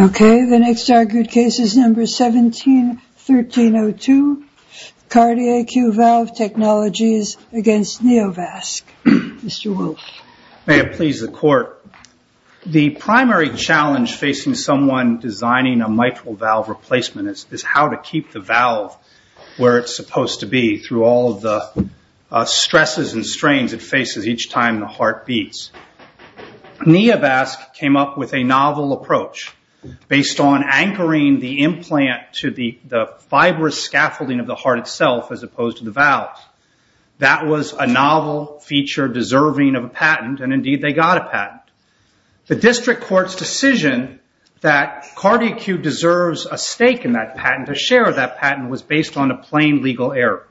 Okay, the next argued case is number 17-1302, Cardiac Q-Valve Technologies against NeoVasc. Mr. Wolf. May it please the court. The primary challenge facing someone designing a mitral valve replacement is how to keep the valve where it's supposed to be through all of the stresses and strains it faces each time the heart beats. NeoVasc came up with a novel approach based on anchoring the implant to the fibrous scaffolding of the heart itself as opposed to the valve. That was a novel feature deserving of a patent, and indeed they got a patent. The district court's decision that Cardiac Q deserves a stake in that patent, a share of that patent, was based on a plain legal error.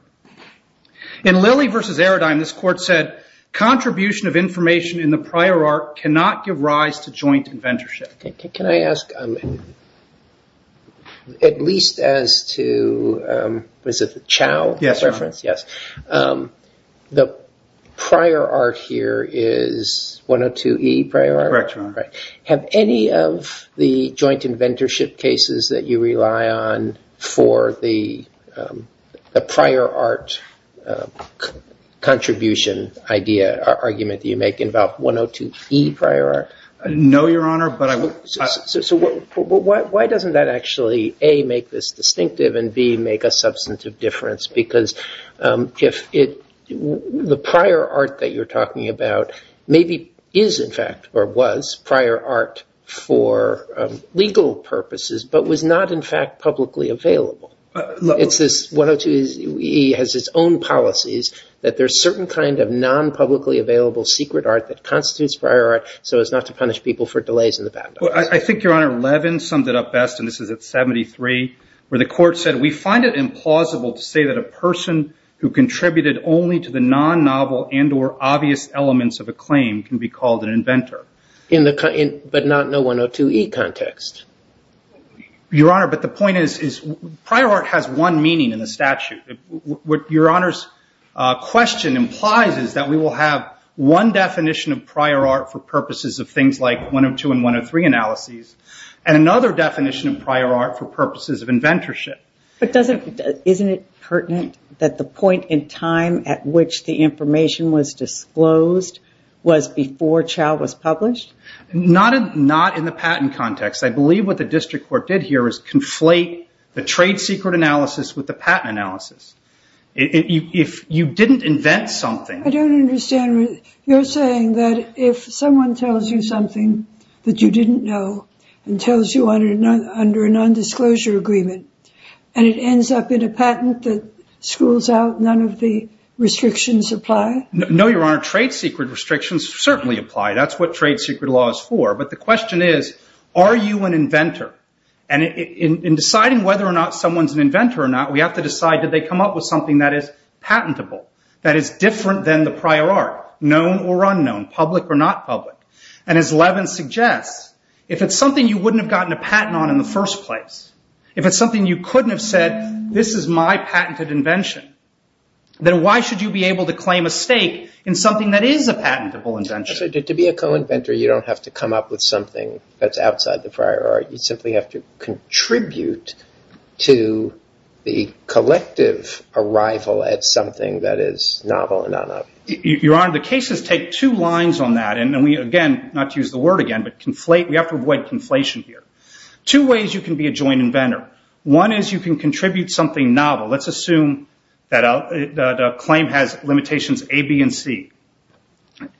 In Lilly v. Aerodyne, this court said, contribution of information in the prior art cannot give rise to joint inventorship. Can I ask, at least as to, was it the Chow reference? Yes, Your Honor. Yes. The prior art here is 102E prior art? Correct, Your Honor. Right. Have any of the joint inventorship cases that you rely on for the prior art contribution idea or argument that you make involve 102E prior art? No, Your Honor. Why doesn't that actually, A, make this distinctive, and B, make a substantive difference? Because the prior art that you're talking about maybe is, in fact, or was prior art for legal purposes, but was not, in fact, publicly available. It's this 102E has its own policies that there's certain kind of non-publicly available secret art that constitutes prior art, so as not to punish people for delays in the patent. I think, Your Honor, Levin summed it up best, and this is at 73, where the court said, we find it implausible to say that a person who contributed only to the non-novel and or obvious elements of a claim can be called an inventor. But not in a 102E context? Your Honor, but the point is, prior art has one meaning in the statute. What Your Honor's question implies is that we will have one definition of prior art for purposes of things like 102 and 103 analyses, and another definition of prior art for purposes of inventorship. Isn't it pertinent that the point in time at which the information was disclosed was before Chau was published? Not in the patent context. I believe what the district court did here is conflate the trade secret analysis with the patent analysis. If you didn't invent something- I don't understand. You're saying that if someone tells you something that you didn't know, and tells you under a nondisclosure agreement, and it ends up in a patent that schools out, none of the restrictions apply? No, Your Honor. Trade secret restrictions certainly apply. That's what trade secret law is for. But the question is, are you an inventor? In deciding whether or not someone's an inventor or not, we have to decide, did they come up with something that is patentable, that is different than the prior art, known or unknown, public or not public? As Levin suggests, if it's something you wouldn't have gotten a patent on in the first place, if it's something you couldn't have said, this is my patented invention, then why should you be able to claim a stake in something that is a patentable invention? To be a co-inventor, you don't have to come up with something that's outside the prior art. You simply have to contribute to the collective arrival at something that is novel and unknown. Your Honor, the cases take two lines on that. And we, again, not to use the word again, but we have to avoid conflation here. Two ways you can be a joint inventor. One is you can contribute something novel. Let's assume that a claim has limitations A, B, and C.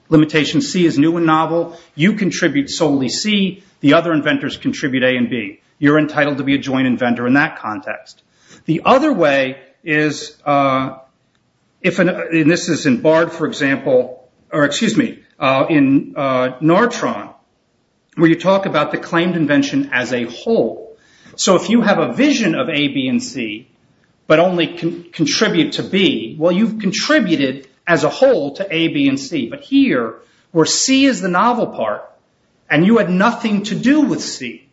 Limitation C is new and novel. You contribute solely C. The other inventors contribute A and B. You're entitled to be a joint inventor in that context. The other way is if, and this is in Bard, for example, or excuse me, in Nartron, where you talk about the claimed invention as a whole. If you have a vision of A, B, and C, but only contribute to B, well, you've contributed as a whole to A, B, and C. But here, where C is the novel part, and you had nothing to do with C,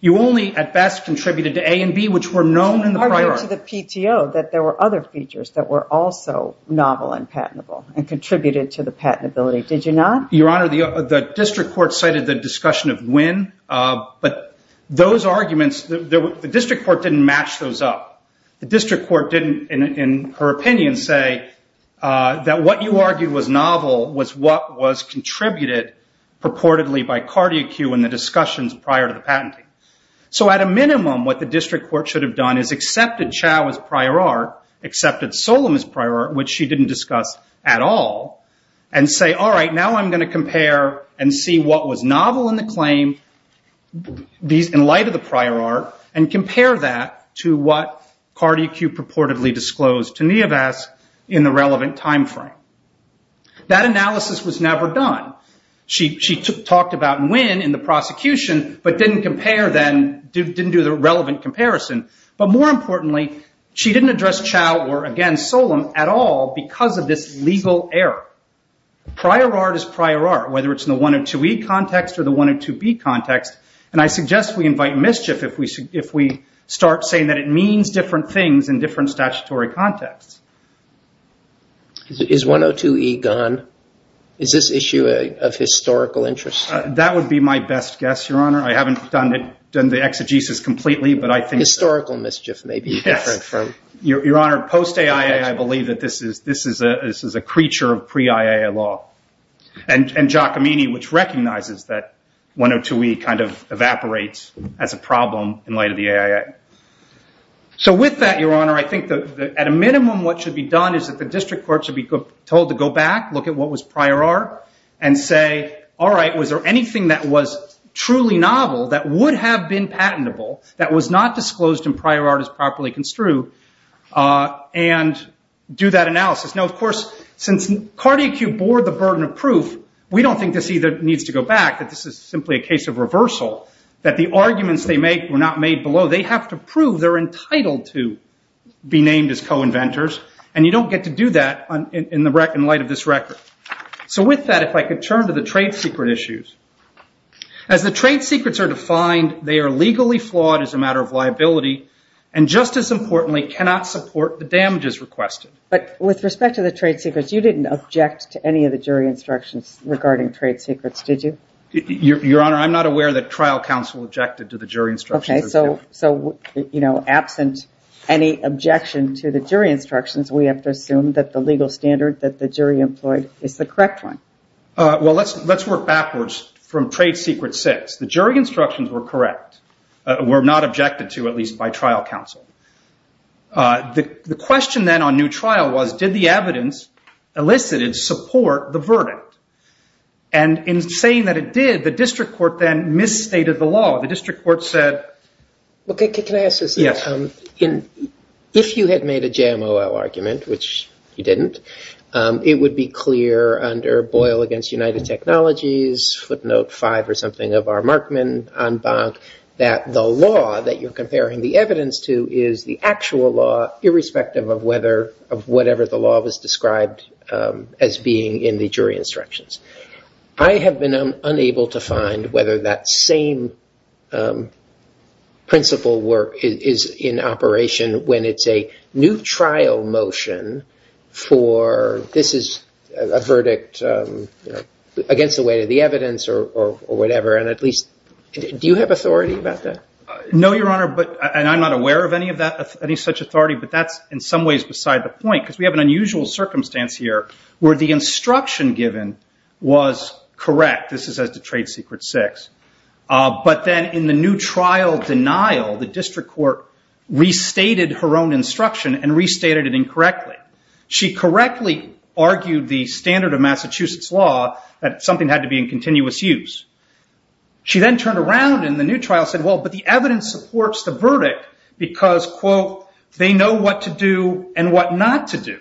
you only, at best, contributed to A and B, which were known in the prior art. You argued to the PTO that there were other features that were also novel and patentable and contributed to the patentability. Did you not? Your Honor, the district court cited the discussion of Nguyen. But those arguments, the district court didn't match those up. The district court didn't, in her opinion, say that what you argued was novel was what was contributed purportedly by Cardiacu and the discussions prior to the patenting. At a minimum, what the district court should have done is accepted Chao as prior art, accepted Solem as prior art, which she didn't discuss at all, and say, all right, now I'm going to compare and see what was novel in the claim in light of the prior art, and compare that to what Cardiacu purportedly disclosed to Nieves in the relevant time frame. That analysis was never done. She talked about Nguyen in the prosecution, but didn't do the relevant comparison. But more importantly, she didn't address Chao or, again, Solem at all because of this legal error. Prior art is prior art, whether it's in the 102E context or the 102B context. I suggest we invite mischief if we start saying that it means different things in different statutory contexts. Is 102E gone? Is this issue of historical interest? That would be my best guess, Your Honor. I haven't done the exegesis completely, but I think that Historical mischief may be different from Your Honor, post-AIA, I believe that this is a creature of pre-AIA law. And Giacomini, which recognizes that 102E evaporates as a problem in light of the AIA. So with that, Your Honor, I think at a minimum what should be done is that the district court should be told to go back, look at what was prior art, and say, all right, was there anything that was truly novel that would have been patentable, that was not disclosed in prior art as properly construed, and do that analysis. Now, of course, since Cardiacube bore the burden of proof, we don't think this either needs to go back, that this is simply a case of reversal, that the arguments they make were not made below. They have to prove they're entitled to be named as co-inventors. And you don't get to do that in light of this record. So with that, if I could turn to the trade secret issues. As the trade secrets are defined, they are legally flawed as a matter of liability, and just as importantly, cannot support the damages requested. But with respect to the trade secrets, you didn't object to any of the jury instructions regarding trade secrets, did you? Your Honor, I'm not aware that trial counsel objected to the jury instructions. So absent any objection to the jury instructions, we have to assume that the legal standard that the jury employed is the correct one. Well, let's work backwards from trade secret six. The jury instructions were correct, were not objected to, at least by trial counsel. The question then on new trial was, did the evidence elicited support the verdict? And in saying that it did, the district court then misstated the law. The district court said- Well, can I ask this? If you had made a JMOL argument, which you didn't, it would be clear under Boyle against United Technologies, footnote five or something of R Markman, en banc, that the law that you're is the actual law, irrespective of whether, of whatever the law was described as being in the jury instructions. I have been unable to find whether that same principle work is in operation when it's a new trial motion for, this is a verdict against the weight of the evidence or whatever. And at least, do you have authority about that? No, Your Honor, and I'm not aware of any such authority, but that's in some ways beside the point, because we have an unusual circumstance here where the instruction given was correct. This is as to trade secret six. But then in the new trial denial, the district court restated her own instruction and restated it incorrectly. She correctly argued the standard of Massachusetts law that something had to be in continuous use. She then turned around in the new trial and said, well, but the evidence supports the verdict because, quote, they know what to do and what not to do.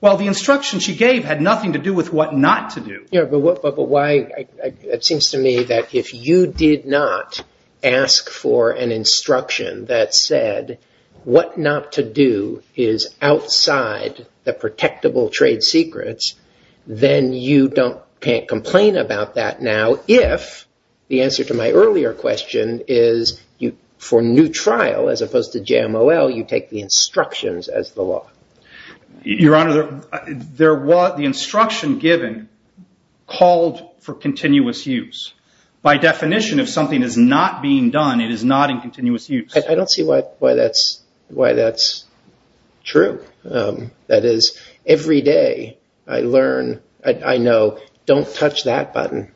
Well, the instruction she gave had nothing to do with what not to do. Yeah, but why? It seems to me that if you did not ask for an instruction that said what not to do is outside the protectable trade secrets, then you can't complain about that now if the answer to my earlier question is for new trial, as opposed to JMOL, you take the instructions as the law. Your Honor, the instruction given called for continuous use. By definition, if something is not being done, it is not in continuous use. I don't see why that's true. That is, every day I learn, I know, don't touch that button.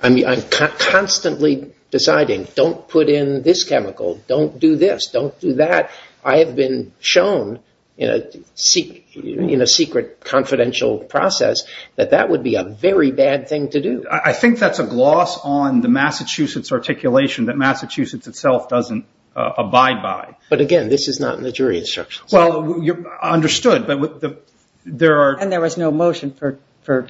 I'm constantly deciding, don't put in this chemical, don't do this, don't do that. I have been shown in a secret confidential process that that would be a very bad thing to do. I think that's a gloss on the Massachusetts articulation that Massachusetts itself doesn't abide by. But again, this is not in the jury instructions. Well, understood. And there was no motion for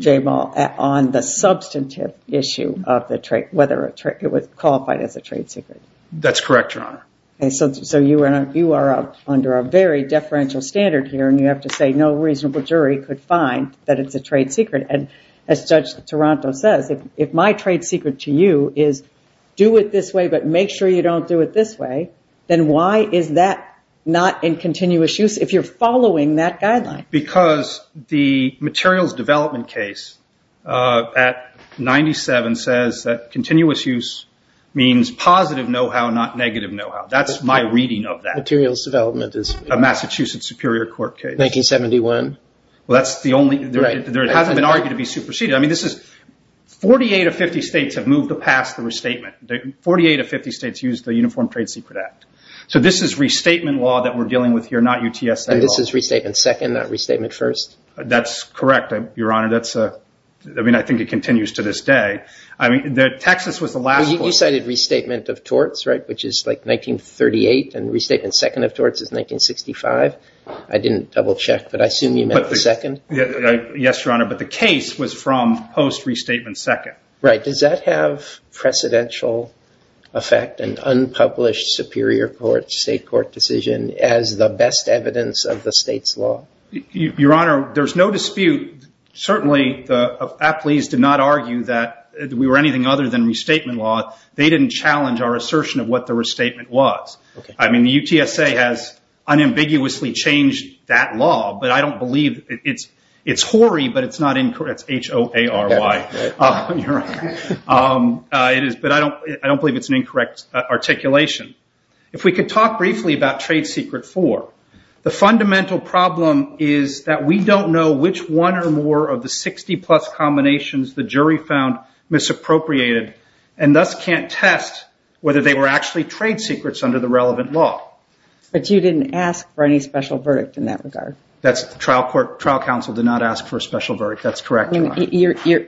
JMOL on the substantive issue of whether it was qualified as a trade secret. That's correct, Your Honor. So you are under a very deferential standard here, and you have to say no reasonable jury could find that it's a trade secret. And as Judge Toronto says, if my trade secret to you is do it this way, but make sure you don't do it this way, then why is that not in continuous use if you're following that guideline? Because the materials development case at 97 says that continuous use means positive know-how, not negative know-how. That's my reading of that. Materials development is- A Massachusetts Superior Court case. 1971. Well, that's the only- Right. It hasn't been argued to be superseded. I mean, this is- 48 of 50 states have moved to pass the restatement. 48 of 50 states used the Uniform Trade Secret Act. So this is restatement law that we're dealing with here, not UTSA law. And this is restatement second, not restatement first? That's correct, Your Honor. That's a- I mean, I think it continues to this day. I mean, Texas was the last- You cited restatement of torts, right? Which is like 1938, and restatement second of torts is 1965. I didn't double-check, but I assume you meant the second? Yes, Your Honor. But the case was from post-restatement second. Right. Does that have precedential effect, an unpublished Superior Court, State Court decision, as the best evidence of the state's law? Your Honor, there's no dispute. Certainly, the athletes did not argue that we were anything other than restatement law. They didn't challenge our assertion of what the restatement was. I mean, the UTSA has unambiguously changed that law, but I don't believe it's- It's HOARY, but it's not incorrect. It's H-O-A-R-Y, Your Honor. But I don't believe it's an incorrect articulation. If we could talk briefly about trade secret four. The fundamental problem is that we don't know which one or more of the 60 plus combinations the jury found misappropriated, and thus can't test whether they were actually trade secrets under the relevant law. But you didn't ask for any special verdict in that regard. That's trial court, trial counsel did not ask for a special verdict. That's correct, Your Honor.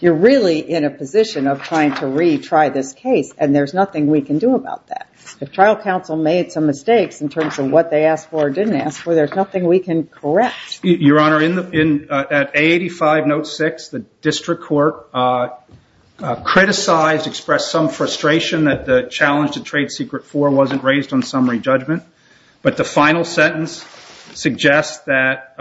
You're really in a position of trying to retry this case, and there's nothing we can do about that. If trial counsel made some mistakes in terms of what they asked for or didn't ask for, there's nothing we can correct. Your Honor, at A85 note six, the district court criticized, expressed some frustration that the challenge to trade secret four wasn't raised on summary judgment. But the final sentence suggests that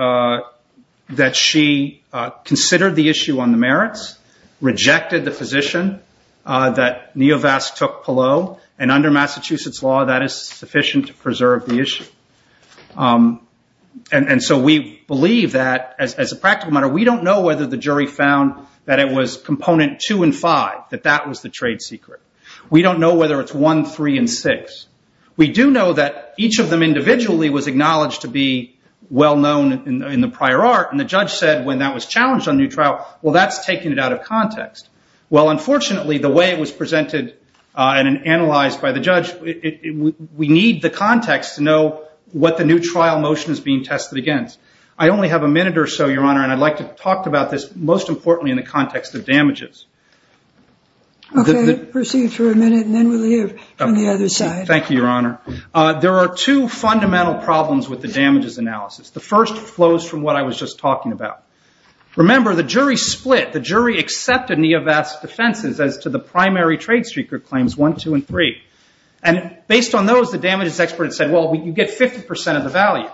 she considered the issue on the merits, rejected the position that Neovast took Palo, and under Massachusetts law, that is sufficient to preserve the issue. And so we believe that, as a practical matter, we don't know whether the jury found that it was component two and five, that that was the trade secret. We don't know whether it's one, three, and six. We do know that each of them individually was acknowledged to be well known in the prior art, and the judge said when that was challenged on new trial, well, that's taking it out of context. Well, unfortunately, the way it was presented and we need the context to know what the new trial motion is being tested against. I only have a minute or so, Your Honor, and I'd like to talk about this, most importantly, in the context of damages. Okay, proceed for a minute, and then we'll hear from the other side. Thank you, Your Honor. There are two fundamental problems with the damages analysis. The first flows from what I was just talking about. Remember, the jury split. The jury accepted Neovast's defenses as to the primary trade secret claims one, two, and three. And based on those, the damages expert said, well, you get 50% of the value.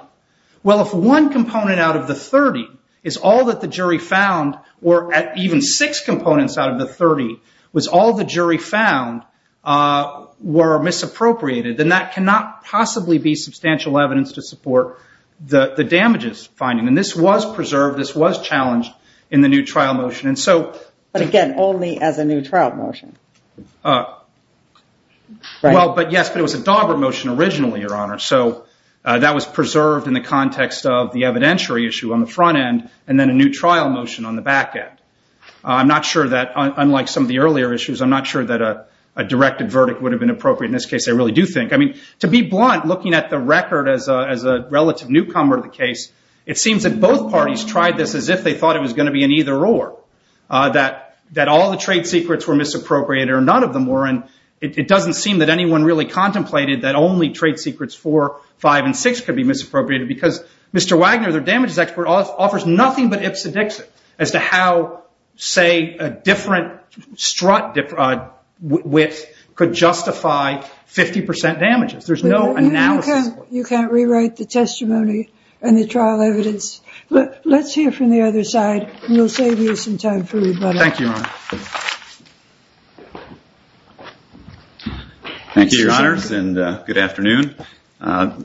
Well, if one component out of the 30 is all that the jury found, or even six components out of the 30 was all the jury found were misappropriated, then that cannot possibly be substantial evidence to support the damages finding. And this was preserved, this was challenged in the new trial motion. And so- But again, only as a new trial motion, right? Yes, but it was a dauber motion originally, Your Honor. So that was preserved in the context of the evidentiary issue on the front end, and then a new trial motion on the back end. I'm not sure that, unlike some of the earlier issues, I'm not sure that a directed verdict would have been appropriate. In this case, I really do think. I mean, to be blunt, looking at the record as a relative newcomer to the case, it seems that both parties tried this as if they thought it was gonna be an either or. That all the trade secrets were misappropriated, or none of them were. And it doesn't seem that anyone really contemplated that only trade secrets four, five, and six could be misappropriated, because Mr. Wagner, their damages expert, offers nothing but ipsedixit as to how, say, a different strut width could justify 50% damages. There's no analysis- You can't rewrite the testimony and the trial evidence. Let's hear from the other side, and we'll save you some time for rebuttal. Thank you, Your Honor. Thank you, Your Honors, and good afternoon. On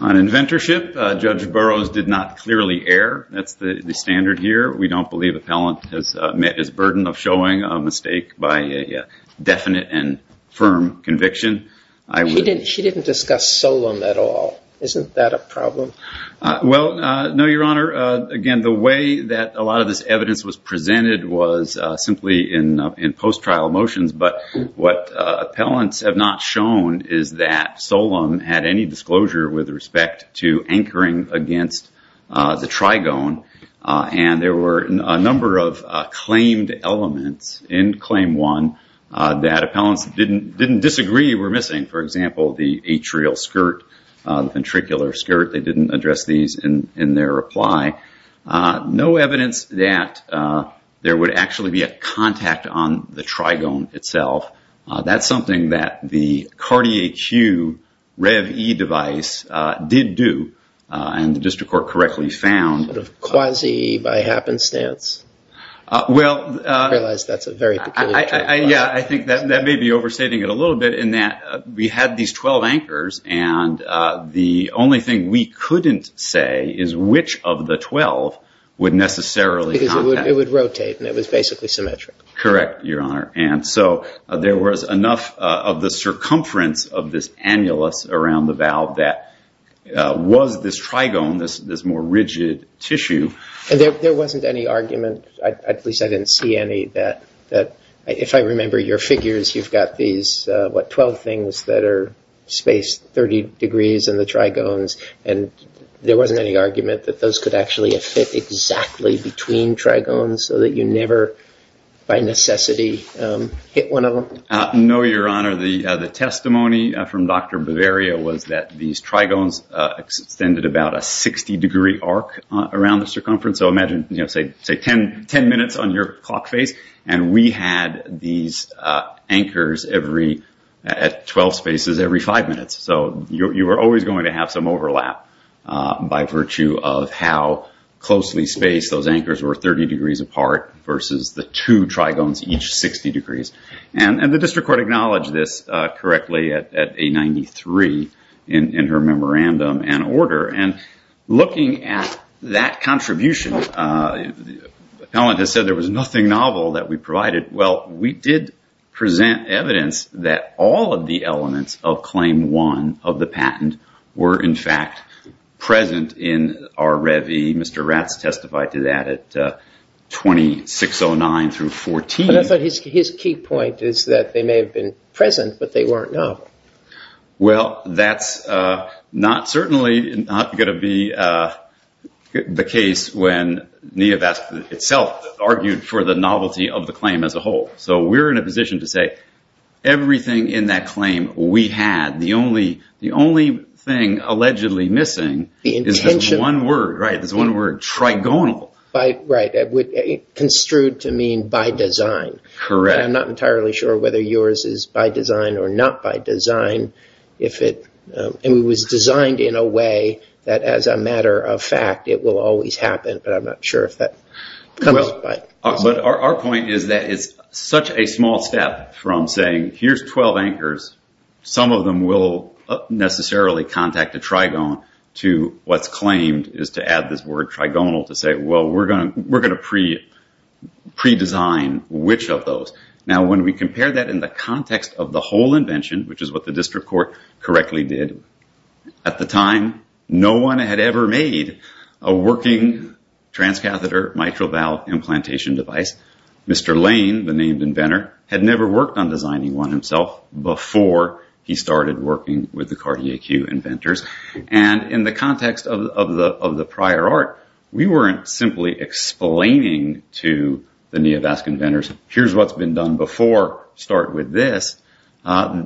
inventorship, Judge Burroughs did not clearly err. That's the standard here. We don't believe appellant has met his burden of showing a mistake by a definite and firm conviction. He didn't discuss Solem at all. Isn't that a problem? Well, no, Your Honor. Again, the way that a lot of this evidence was presented was simply in post-trial motions. But what appellants have not shown is that Solem had any disclosure with respect to anchoring against the trigone. And there were a number of claimed elements in Claim 1 that appellants didn't disagree were missing. For example, the atrial skirt, the ventricular skirt, they didn't address these in their reply. No evidence that there would actually be a contact on the trigone itself. That's something that the Cartier-Q Rev-E device did do, and the district court correctly found. Quasi by happenstance. Well, I think that may be overstating it a little bit in that we had these 12 anchors, and the only thing we couldn't say is which of the 12 would necessarily contact. Because it would rotate, and it was basically symmetric. Correct, Your Honor. And so there was enough of the circumference of this annulus around the valve that was this trigone, this more rigid tissue. And there wasn't any argument, at least I didn't see any, that if I remember your figures, you've got these 12 things that are spaced 30 degrees in the trigones. And there wasn't any argument that those could actually fit exactly between trigones so that you never, by necessity, hit one of them? No, Your Honor. The testimony from Dr. Bavaria was that these trigones extended about a 60 degree arc around the circumference. So imagine, say, 10 minutes on your clock face, and we had these anchors at 12 spaces every five minutes. So you were always going to have some overlap by virtue of how closely spaced those anchors were, 30 degrees apart versus the two trigones, each 60 degrees. And the district court acknowledged this correctly at 893 in her memorandum and order. And looking at that contribution, the appellant has said there was nothing novel that we provided. Well, we did present evidence that all of the elements of Claim 1 of the patent were, in fact, present in our revie. Mr. Ratz testified to that at 2609 through 14. But I thought his key point is that they may have been present, but they weren't novel. Well, that's certainly not going to be the case when Neovask itself argued for the novelty of the claim as a whole. So we're in a position to say, everything in that claim we had, the only thing allegedly missing is this one word, trigonal. Right, construed to mean by design. I'm not entirely sure whether yours is by design or not by design. And it was designed in a way that, as a matter of fact, But I'm not sure if that comes by design. But our point is that it's such a small step from saying, here's 12 anchors. Some of them will necessarily contact a trigonal to what's claimed is to add this word trigonal to say, well, we're going to pre-design which of those. Now, when we compare that in the context of the whole invention, which is what the district court correctly did, at the time, no one had ever made a working transcatheter mitral valve implantation device. Mr. Lane, the named inventor, had never worked on designing one himself before he started working with the Cartier-Q inventors. And in the context of the prior art, we weren't simply explaining to the Neovask inventors, here's what's been done before. Start with this.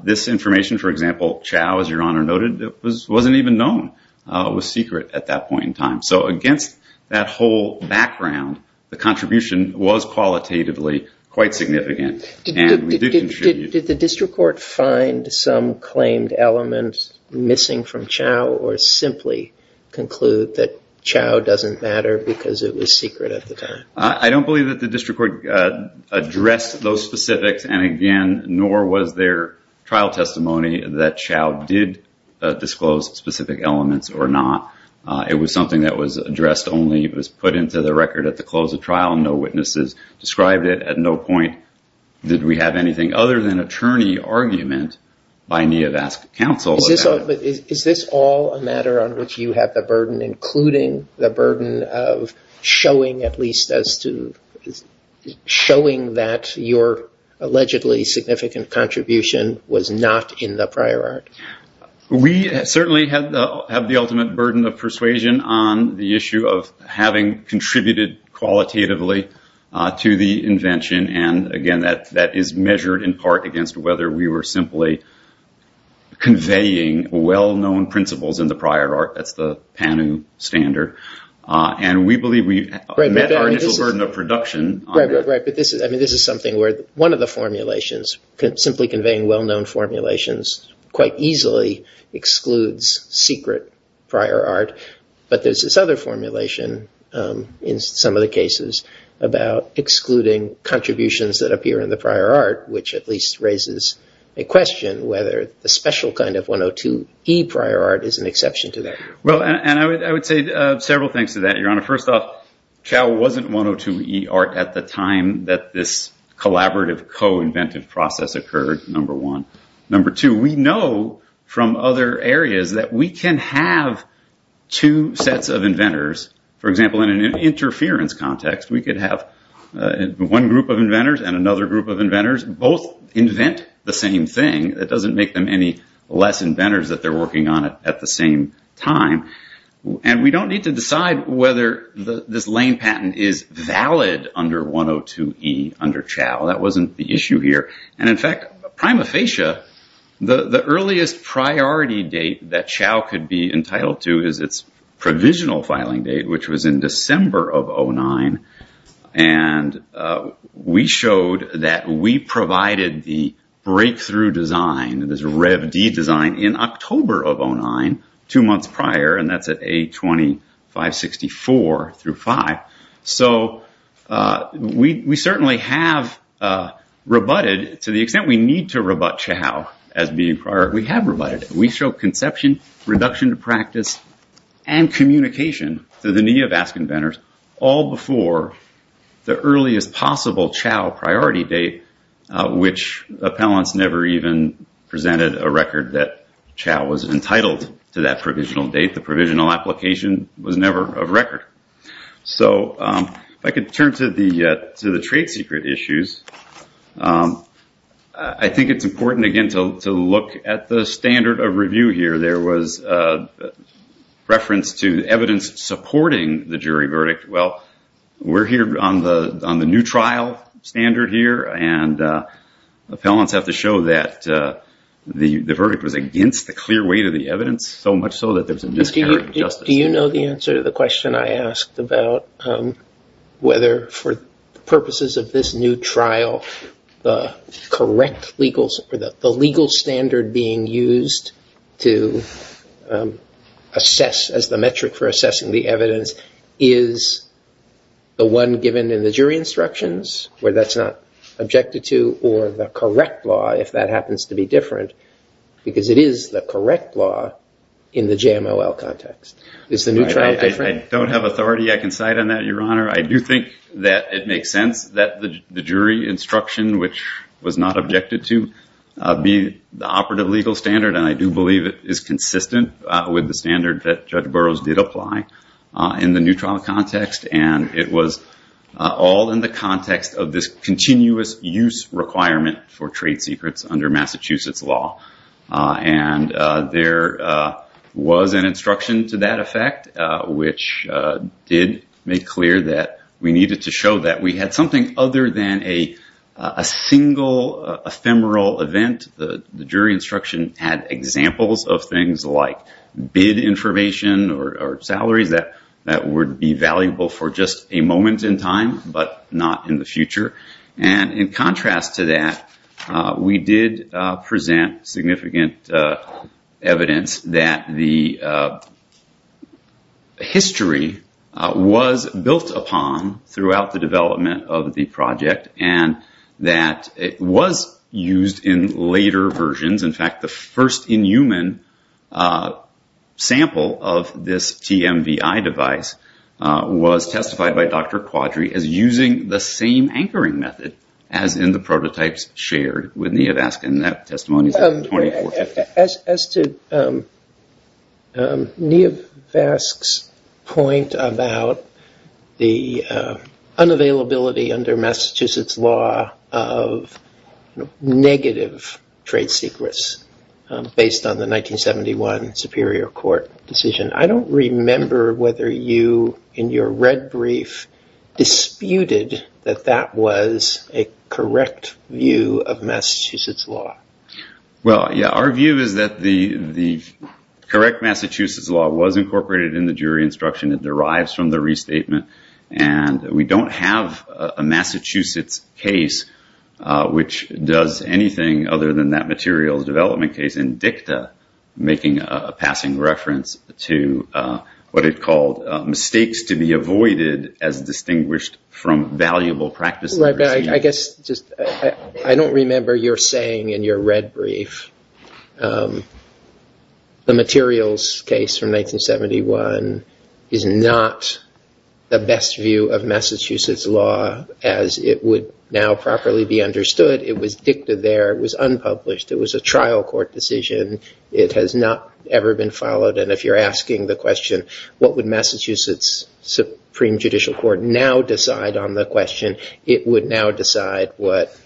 This information, for example, Chao, as your honor noted, wasn't even known. It was secret at that point in time. So against that whole background, the contribution was qualitatively quite significant. And we did contribute. Did the district court find some claimed elements missing from Chao, or simply conclude that Chao doesn't matter because it was secret at the time? I don't believe that the district court addressed those specifics. And again, nor was there trial testimony that Chao did disclose specific elements or not. It was something that was addressed only. It was put into the record at the close of trial, and no witnesses described it. At no point did we have anything other than attorney argument by Neovask counsel about it. Is this all a matter on which you have the burden, including the burden of showing that your allegedly significant contribution was not in the prior art? We certainly have the ultimate burden of persuasion on the issue of having contributed qualitatively to the invention. And again, that is measured in part against whether we were simply conveying well-known principles in the prior art. That's the Panu standard. And we believe we met our initial burden of production. Right, but this is something where one of the formulations, simply conveying well-known formulations, quite easily excludes secret prior art. But there's this other formulation in some of the cases about excluding contributions that appear in the prior art, which at least raises a question whether the special kind of 102E prior art is an exception to that. Well, and I would say several things to that, Your Honor. First off, Chao wasn't 102E art at the time that this collaborative co-inventive process occurred, number one. Number two, we know from other areas that we can have two sets of inventors. For example, in an interference context, we could have one group of inventors and another group of inventors both invent the same thing. That doesn't make them any less inventors that they're working on it at the same time. And we don't need to decide whether this Lane patent is valid under 102E under Chao. That wasn't the issue here. And in fact, prima facie, the earliest priority date that Chao could be entitled to is its provisional filing date, which was in December of 2009. And we showed that we provided the breakthrough design, this Rev-D design, in October of 2009, two months prior. And that's at A2564 through five. So we certainly have rebutted, to the extent we need to rebut Chao as being prior, we have rebutted. We show conception, reduction to practice, and communication to the knee of ask inventors all before the earliest possible Chao priority date, which appellants never even presented a record that Chao was entitled to that provisional date. The provisional application was never a record. So if I could turn to the trade secret issues, I think it's important, again, to look at the standard of review here. There was reference to evidence supporting the jury verdict. Well, we're here on the new trial standard here. And appellants have to show that the verdict was against the clear weight of the evidence, so much so that there's a miscarriage of justice. Do you know the answer to the question I asked about whether, for purposes of this new trial, the correct legal standard being used to assess as the metric for assessing the evidence is the one given in the jury instructions, where that's not objected to, or the correct law, if that happens to be different? Because it is the correct law in the JML context. Is the new trial different? I don't have authority. I can cite on that, Your Honor. I do think that it makes sense that the jury instruction, which was not objected to, be the operative legal standard. And I do believe it is consistent with the standard that Judge Burroughs did apply in the new trial context. And it was all in the context of this continuous use requirement for trade secrets under Massachusetts law. And there was an instruction to that effect, which did make clear that we needed to show that we had something other than a single ephemeral event. The jury instruction had examples of things like bid information or salaries that would be valuable for just a moment in time, but not in the future. And in contrast to that, we did present significant evidence that the history was built upon throughout the development of the project, and that it was used in later versions. In fact, the first in-human sample of this TMVI device was testified by Dr. Quadri as using the same anchoring method as in the prototypes shared with Nievask. And that testimony is from 2450. As to Nievask's point about the unavailability under Massachusetts law of negative trade secrets based on the 1971 Superior Court decision, I don't remember whether you, in your red brief, disputed that that was a correct view of Massachusetts law. Well, yeah. Our view is that the correct Massachusetts law was incorporated in the jury instruction. It derives from the restatement. And we don't have a Massachusetts case which does anything other than that materials development case in dicta, making a passing reference to what it called mistakes to be avoided as distinguished from valuable practice. I guess, I don't remember your saying in your red brief, the materials case from 1971 is not the best view of Massachusetts law as it would now properly be understood. It was dicta there. It was unpublished. It was a trial court decision. It has not ever been followed. And if you're asking the question, what would Massachusetts Supreme Judicial Court now decide on the question, it would now decide what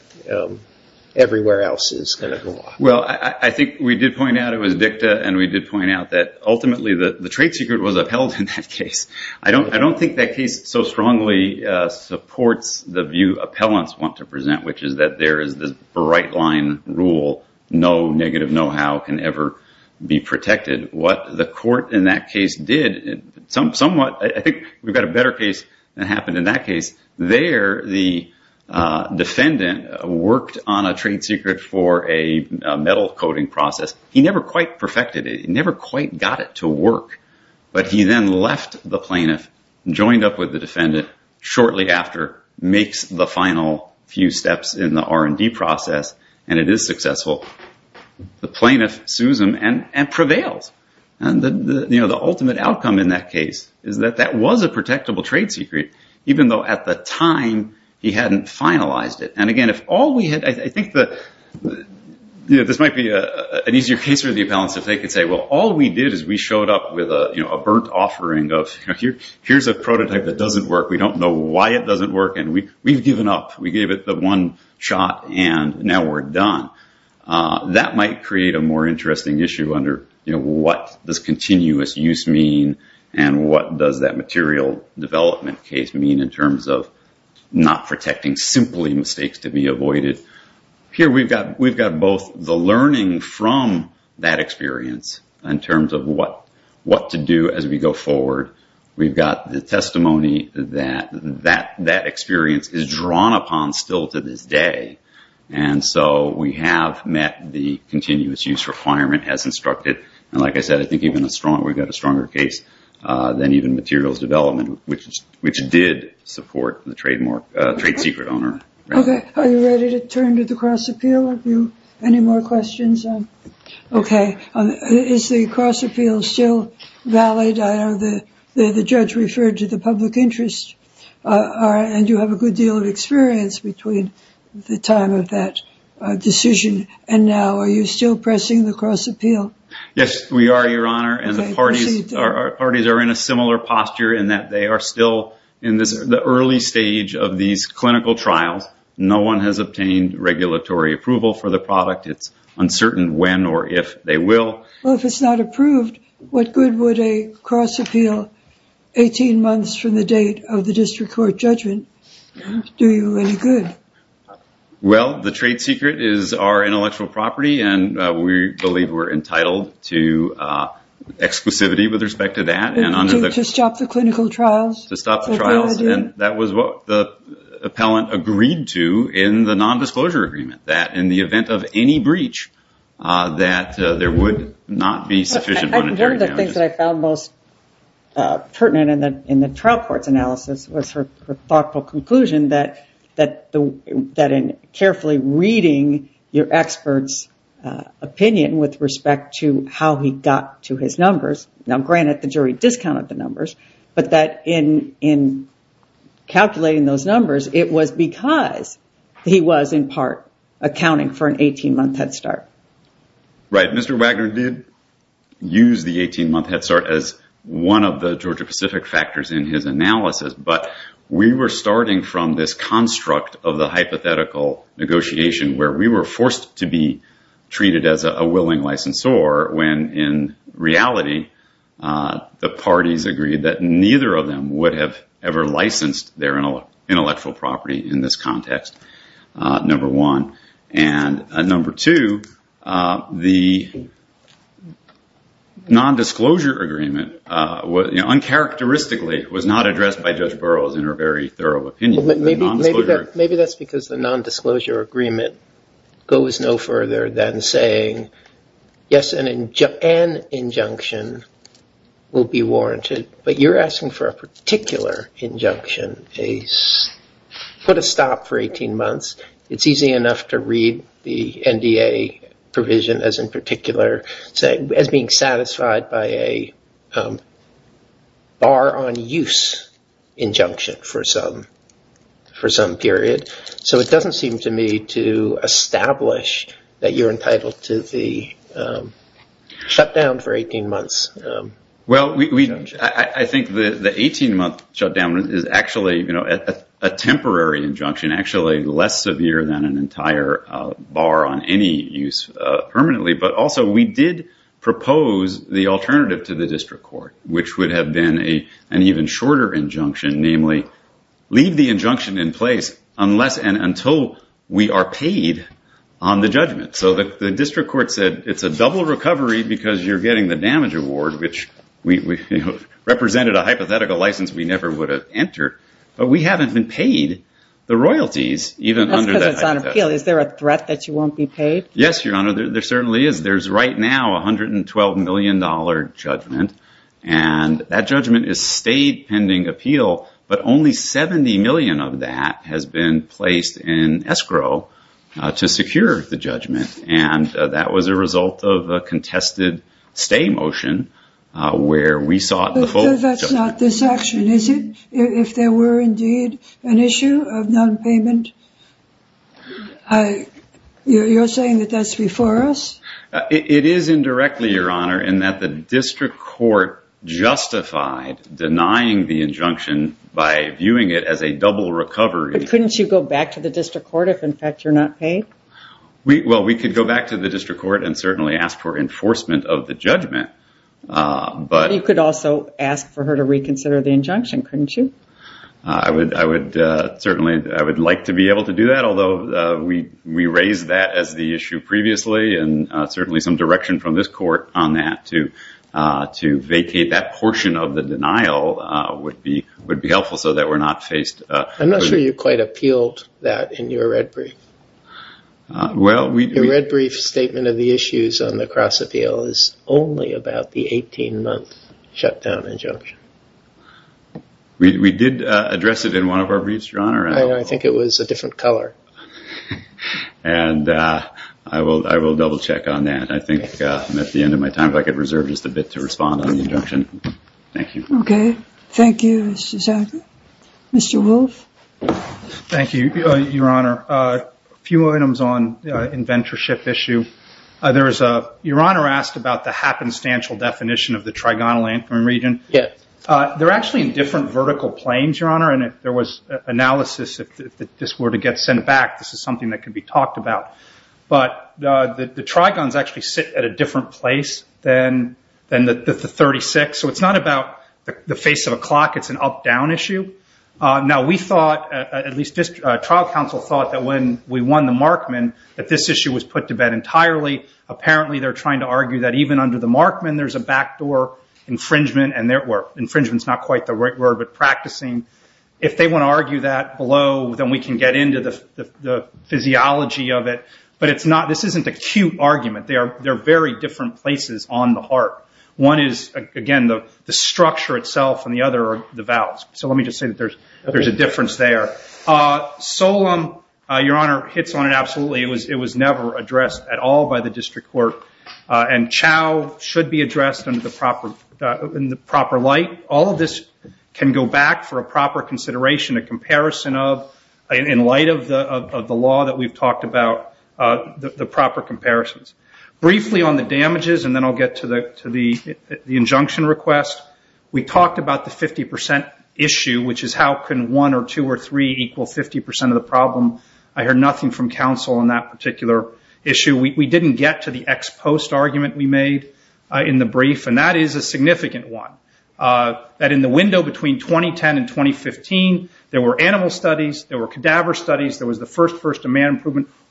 everywhere else is going to go on. Well, I think we did point out it was dicta. And we did point out that, ultimately, the trade secret was upheld in that case. I don't think that case so strongly supports the view appellants want to present, which is that there is this bright line rule, no negative know-how can ever be protected. What the court in that case did, somewhat, I think we've got a better case than happened in that case. There, the defendant worked on a trade secret for a metal coating process. He never quite perfected it. He never quite got it to work. But he then left the plaintiff, joined up with the defendant, shortly after, makes the final few steps in the R&D process. And it is successful. The plaintiff sues him and prevails. And the ultimate outcome in that case is that that was a protectable trade secret, even though, at the time, he hadn't finalized it. And again, if all we had, I think this might be an easier case for the appellants if they could say, well, all we did is we showed up with a burnt offering of, here's a prototype that doesn't work. We don't know why it doesn't work. And we've given up. We gave it the one shot, and now we're done. That might create a more interesting issue under what does continuous use mean and what does that material development case mean in terms of not protecting, simply, mistakes to be avoided. Here, we've got both the learning from that experience in terms of what to do as we go forward. We've got the testimony that that experience is drawn upon still to this day. And so we have met the continuous use requirement as instructed. And like I said, I think we've got a stronger case than even materials development, which did support the trade secret owner. OK, are you ready to turn to the cross appeal? Any more questions? OK, is the cross appeal still valid? The judge referred to the public interest. And you have a good deal of experience between the time of that decision and now. Are you still pressing the cross appeal? Yes, we are, Your Honor. And the parties are in a similar posture in that they are still in the early stage of these clinical trials. No one has obtained regulatory approval for the product. It's uncertain when or if they will. Well, if it's not approved, what good would a cross appeal 18 months from the date of the district court judgment do you any good? Well, the trade secret is our intellectual property. And we believe we're entitled to exclusivity with respect to that. To stop the clinical trials? To stop the trials. And that was what the appellant agreed to in the nondisclosure agreement, that in the event of any breach, that there would not be sufficient monetary damages. One of the things that I found most pertinent in the trial court's analysis was her thoughtful conclusion that in carefully reading your expert's opinion with respect to how he got to his numbers, now, granted the jury discounted the numbers, but that in calculating those numbers, it was because he was, in part, accounting for an 18-month head start. Right, Mr. Wagner did use the 18-month head start as one of the Georgia-Pacific factors in his analysis. But we were starting from this construct of the hypothetical negotiation where we were forced to be treated as a willing licensor, when in reality, the parties agreed that neither of them would have ever licensed their intellectual property in this context, number one. And number two, the nondisclosure agreement, uncharacteristically, was not addressed by Judge Burroughs in her very thorough opinion. Maybe that's because the nondisclosure agreement goes no further than saying, yes, an injunction will be warranted. But you're asking for a particular injunction, put a stop for 18 months. It's easy enough to read the NDA provision as in particular, as being satisfied by a bar on use injunction for some period. So it doesn't seem to me to establish that you're entitled to the shutdown for 18 months. Well, I think the 18-month shutdown is actually a temporary injunction, actually less severe than an entire bar on any use permanently. But also, we did propose the alternative to the district court, which would have been an even shorter injunction, namely, leave the injunction in place unless and until we are paid on the judgment. So the district court said, it's a double recovery because you're getting the damage award, which represented a hypothetical license we never would have entered. But we haven't been paid the royalties, even under that hypothesis. Is there a threat that you won't be paid? Yes, Your Honor, there certainly is. There's right now $112 million judgment. And that judgment is state pending appeal. But only $70 million of that has been placed in escrow to secure the judgment. And that was a result of a contested stay motion, where we sought the full judgment. But that's not this action, is it? If there were indeed an issue of non-payment, you're saying that that's before us? It is indirectly, Your Honor, in that the district court justified denying the injunction by viewing it as a double recovery. Couldn't you go back to the district court if, in fact, you're not paid? Well, we could go back to the district court and certainly ask for enforcement of the judgment. But you could also ask for her to reconsider the injunction, couldn't you? I would certainly like to be able to do that, although we raised that as the issue previously. And certainly some direction from this court on that to vacate that portion of the denial would be helpful so that we're not faced. I'm not sure you quite appealed that in your red brief. Your red brief statement of the issues on the cross-appeal is only about the 18-month shutdown injunction. We did address it in one of our briefs, Your Honor. I think it was a different color. And I will double check on that. I think I'm at the end of my time. If I could reserve just a bit to respond on the injunction. Thank you. OK. Thank you, Mr. Zagler. Mr. Wolfe? Thank you, Your Honor. A few items on inventorship issue. Your Honor asked about the happenstance definition of the trigonal anchoring region. They're actually in different vertical planes, Your Honor. There was analysis that if this were to get sent back, this is something that could be talked about. But the trigons actually sit at a different place than the 36. So it's not about the face of a clock. It's an up-down issue. Now, we thought, at least trial counsel thought that when we won the Markman, that this issue was put to bed entirely. Apparently, they're trying to argue that even under the Markman, there's a backdoor infringement, where infringement's not quite the right word, but practicing. If they want to argue that below, then we can get into the physiology of it. But this isn't a cute argument. They're very different places on the heart. One is, again, the structure itself, and the other are the valves. So let me just say that there's a difference there. SOLEM, Your Honor, hits on it absolutely. It was never addressed at all by the district court. And CHOW should be addressed in the proper light. All of this can go back for a proper consideration, a comparison of, in light of the law that we've talked about, the proper comparisons. Briefly on the damages, and then I'll get to the injunction request. We talked about the 50% issue, which is how can one or two or three equal 50% of the problem. I heard nothing from counsel on that particular issue. We didn't get to the ex post argument we made in the brief, and that is a significant one. That in the window between 2010 and 2015, there were animal studies, there were cadaver studies,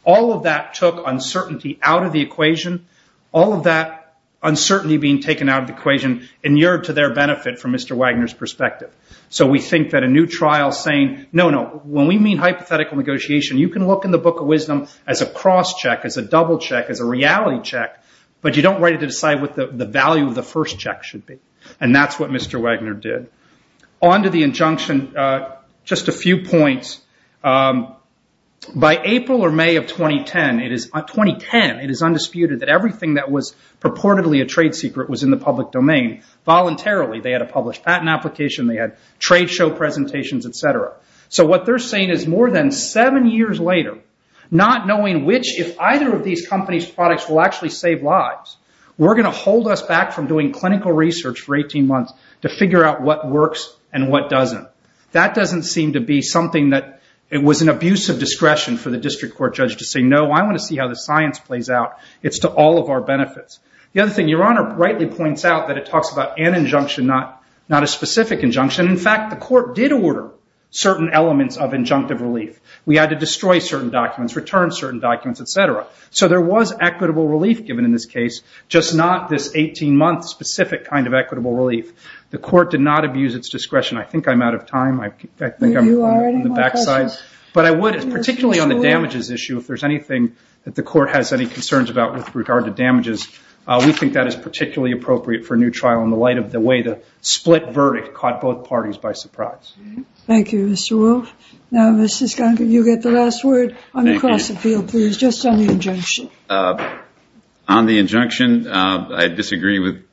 All of that took uncertainty out of the equation. All of that uncertainty being taken out of the equation inured to their benefit from Mr. Wagner's perspective. So we think that a new trial saying, no, no, when we mean hypothetical negotiation, you can look in the book of wisdom as a cross-check, as a double-check, as a reality check, but you don't write it to decide what the value of the first check should be. And that's what Mr. Wagner did. On to the injunction, just a few points. By April or May of 2010, it is undisputed that everything that was purportedly a trade secret was in the public domain. Voluntarily, they had a published patent application, they had trade show presentations, et cetera. So what they're saying is more than seven years later, not knowing which, if either of these companies' products will actually save lives, we're going to hold us back from doing clinical research for 18 months to figure out what works and what doesn't. That doesn't seem to be something that, it was an abuse of discretion for the district court judge to say, no, I want to see how the science plays out. It's to all of our benefits. The other thing, Your Honor rightly points out that it talks about an injunction, not a specific injunction. In fact, the court did order certain elements of injunctive relief. We had to destroy certain documents, return certain documents, et cetera. So there was equitable relief given in this case, just not this 18-month specific kind of equitable relief. The court did not abuse its discretion. I think I'm out of time. I think I'm on the back side. But I would, particularly on the damages issue, if there's anything that the court has any concerns about with regard to damages, we think that is particularly appropriate for a new trial in the light of the way the split verdict caught both parties by surprise. Thank you, Mr. Wolff. Now, Mr. Skunker, you get the last word on the cross-appeal, please, just on the injunction. On the injunction, I disagree with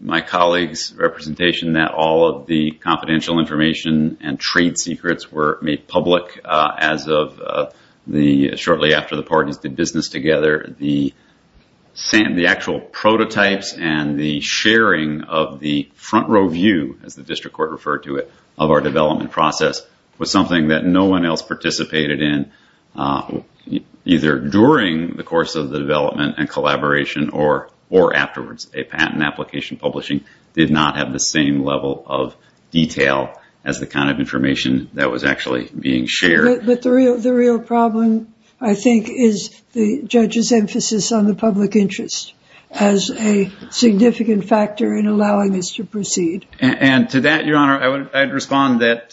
my colleague's representation that all of the confidential information and trade secrets were made public as of the, shortly after the parties did business together, the actual prototypes and the sharing of the front row view, as the district court referred to it, of our development process was something that no one else participated in, either during the course of the development and collaboration or afterwards. A patent application publishing did not have the same level of detail as the kind of information that was actually being shared. But the real problem, I think, is the judge's emphasis on the public interest as a significant factor in allowing this to proceed. And to that, Your Honor, I would respond that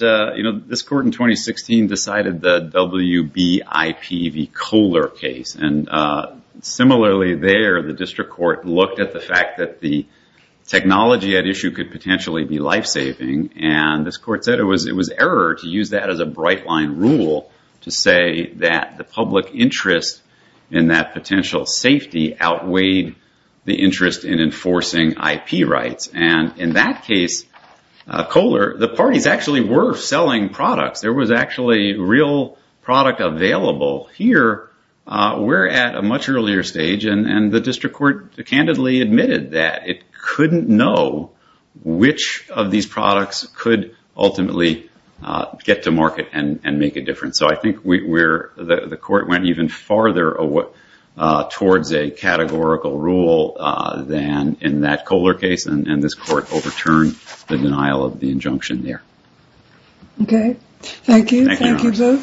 this court in 2016 decided the WBIPV Kohler case. And similarly there, the district court looked at the fact that the technology at issue could potentially be lifesaving. And this court said it was error to use that as a bright line rule to say that the public interest in that potential safety outweighed the interest in enforcing IP rights. And in that case, Kohler, the parties actually were selling products. There was actually real product available. Here, we're at a much earlier stage. And the district court candidly admitted that it couldn't know which of these products could ultimately get to market and make a difference. So I think the court went even farther towards a categorical rule than in that Kohler case. And this court overturned the denial of the injunction there. Thank you both. Thank you, Your Honor.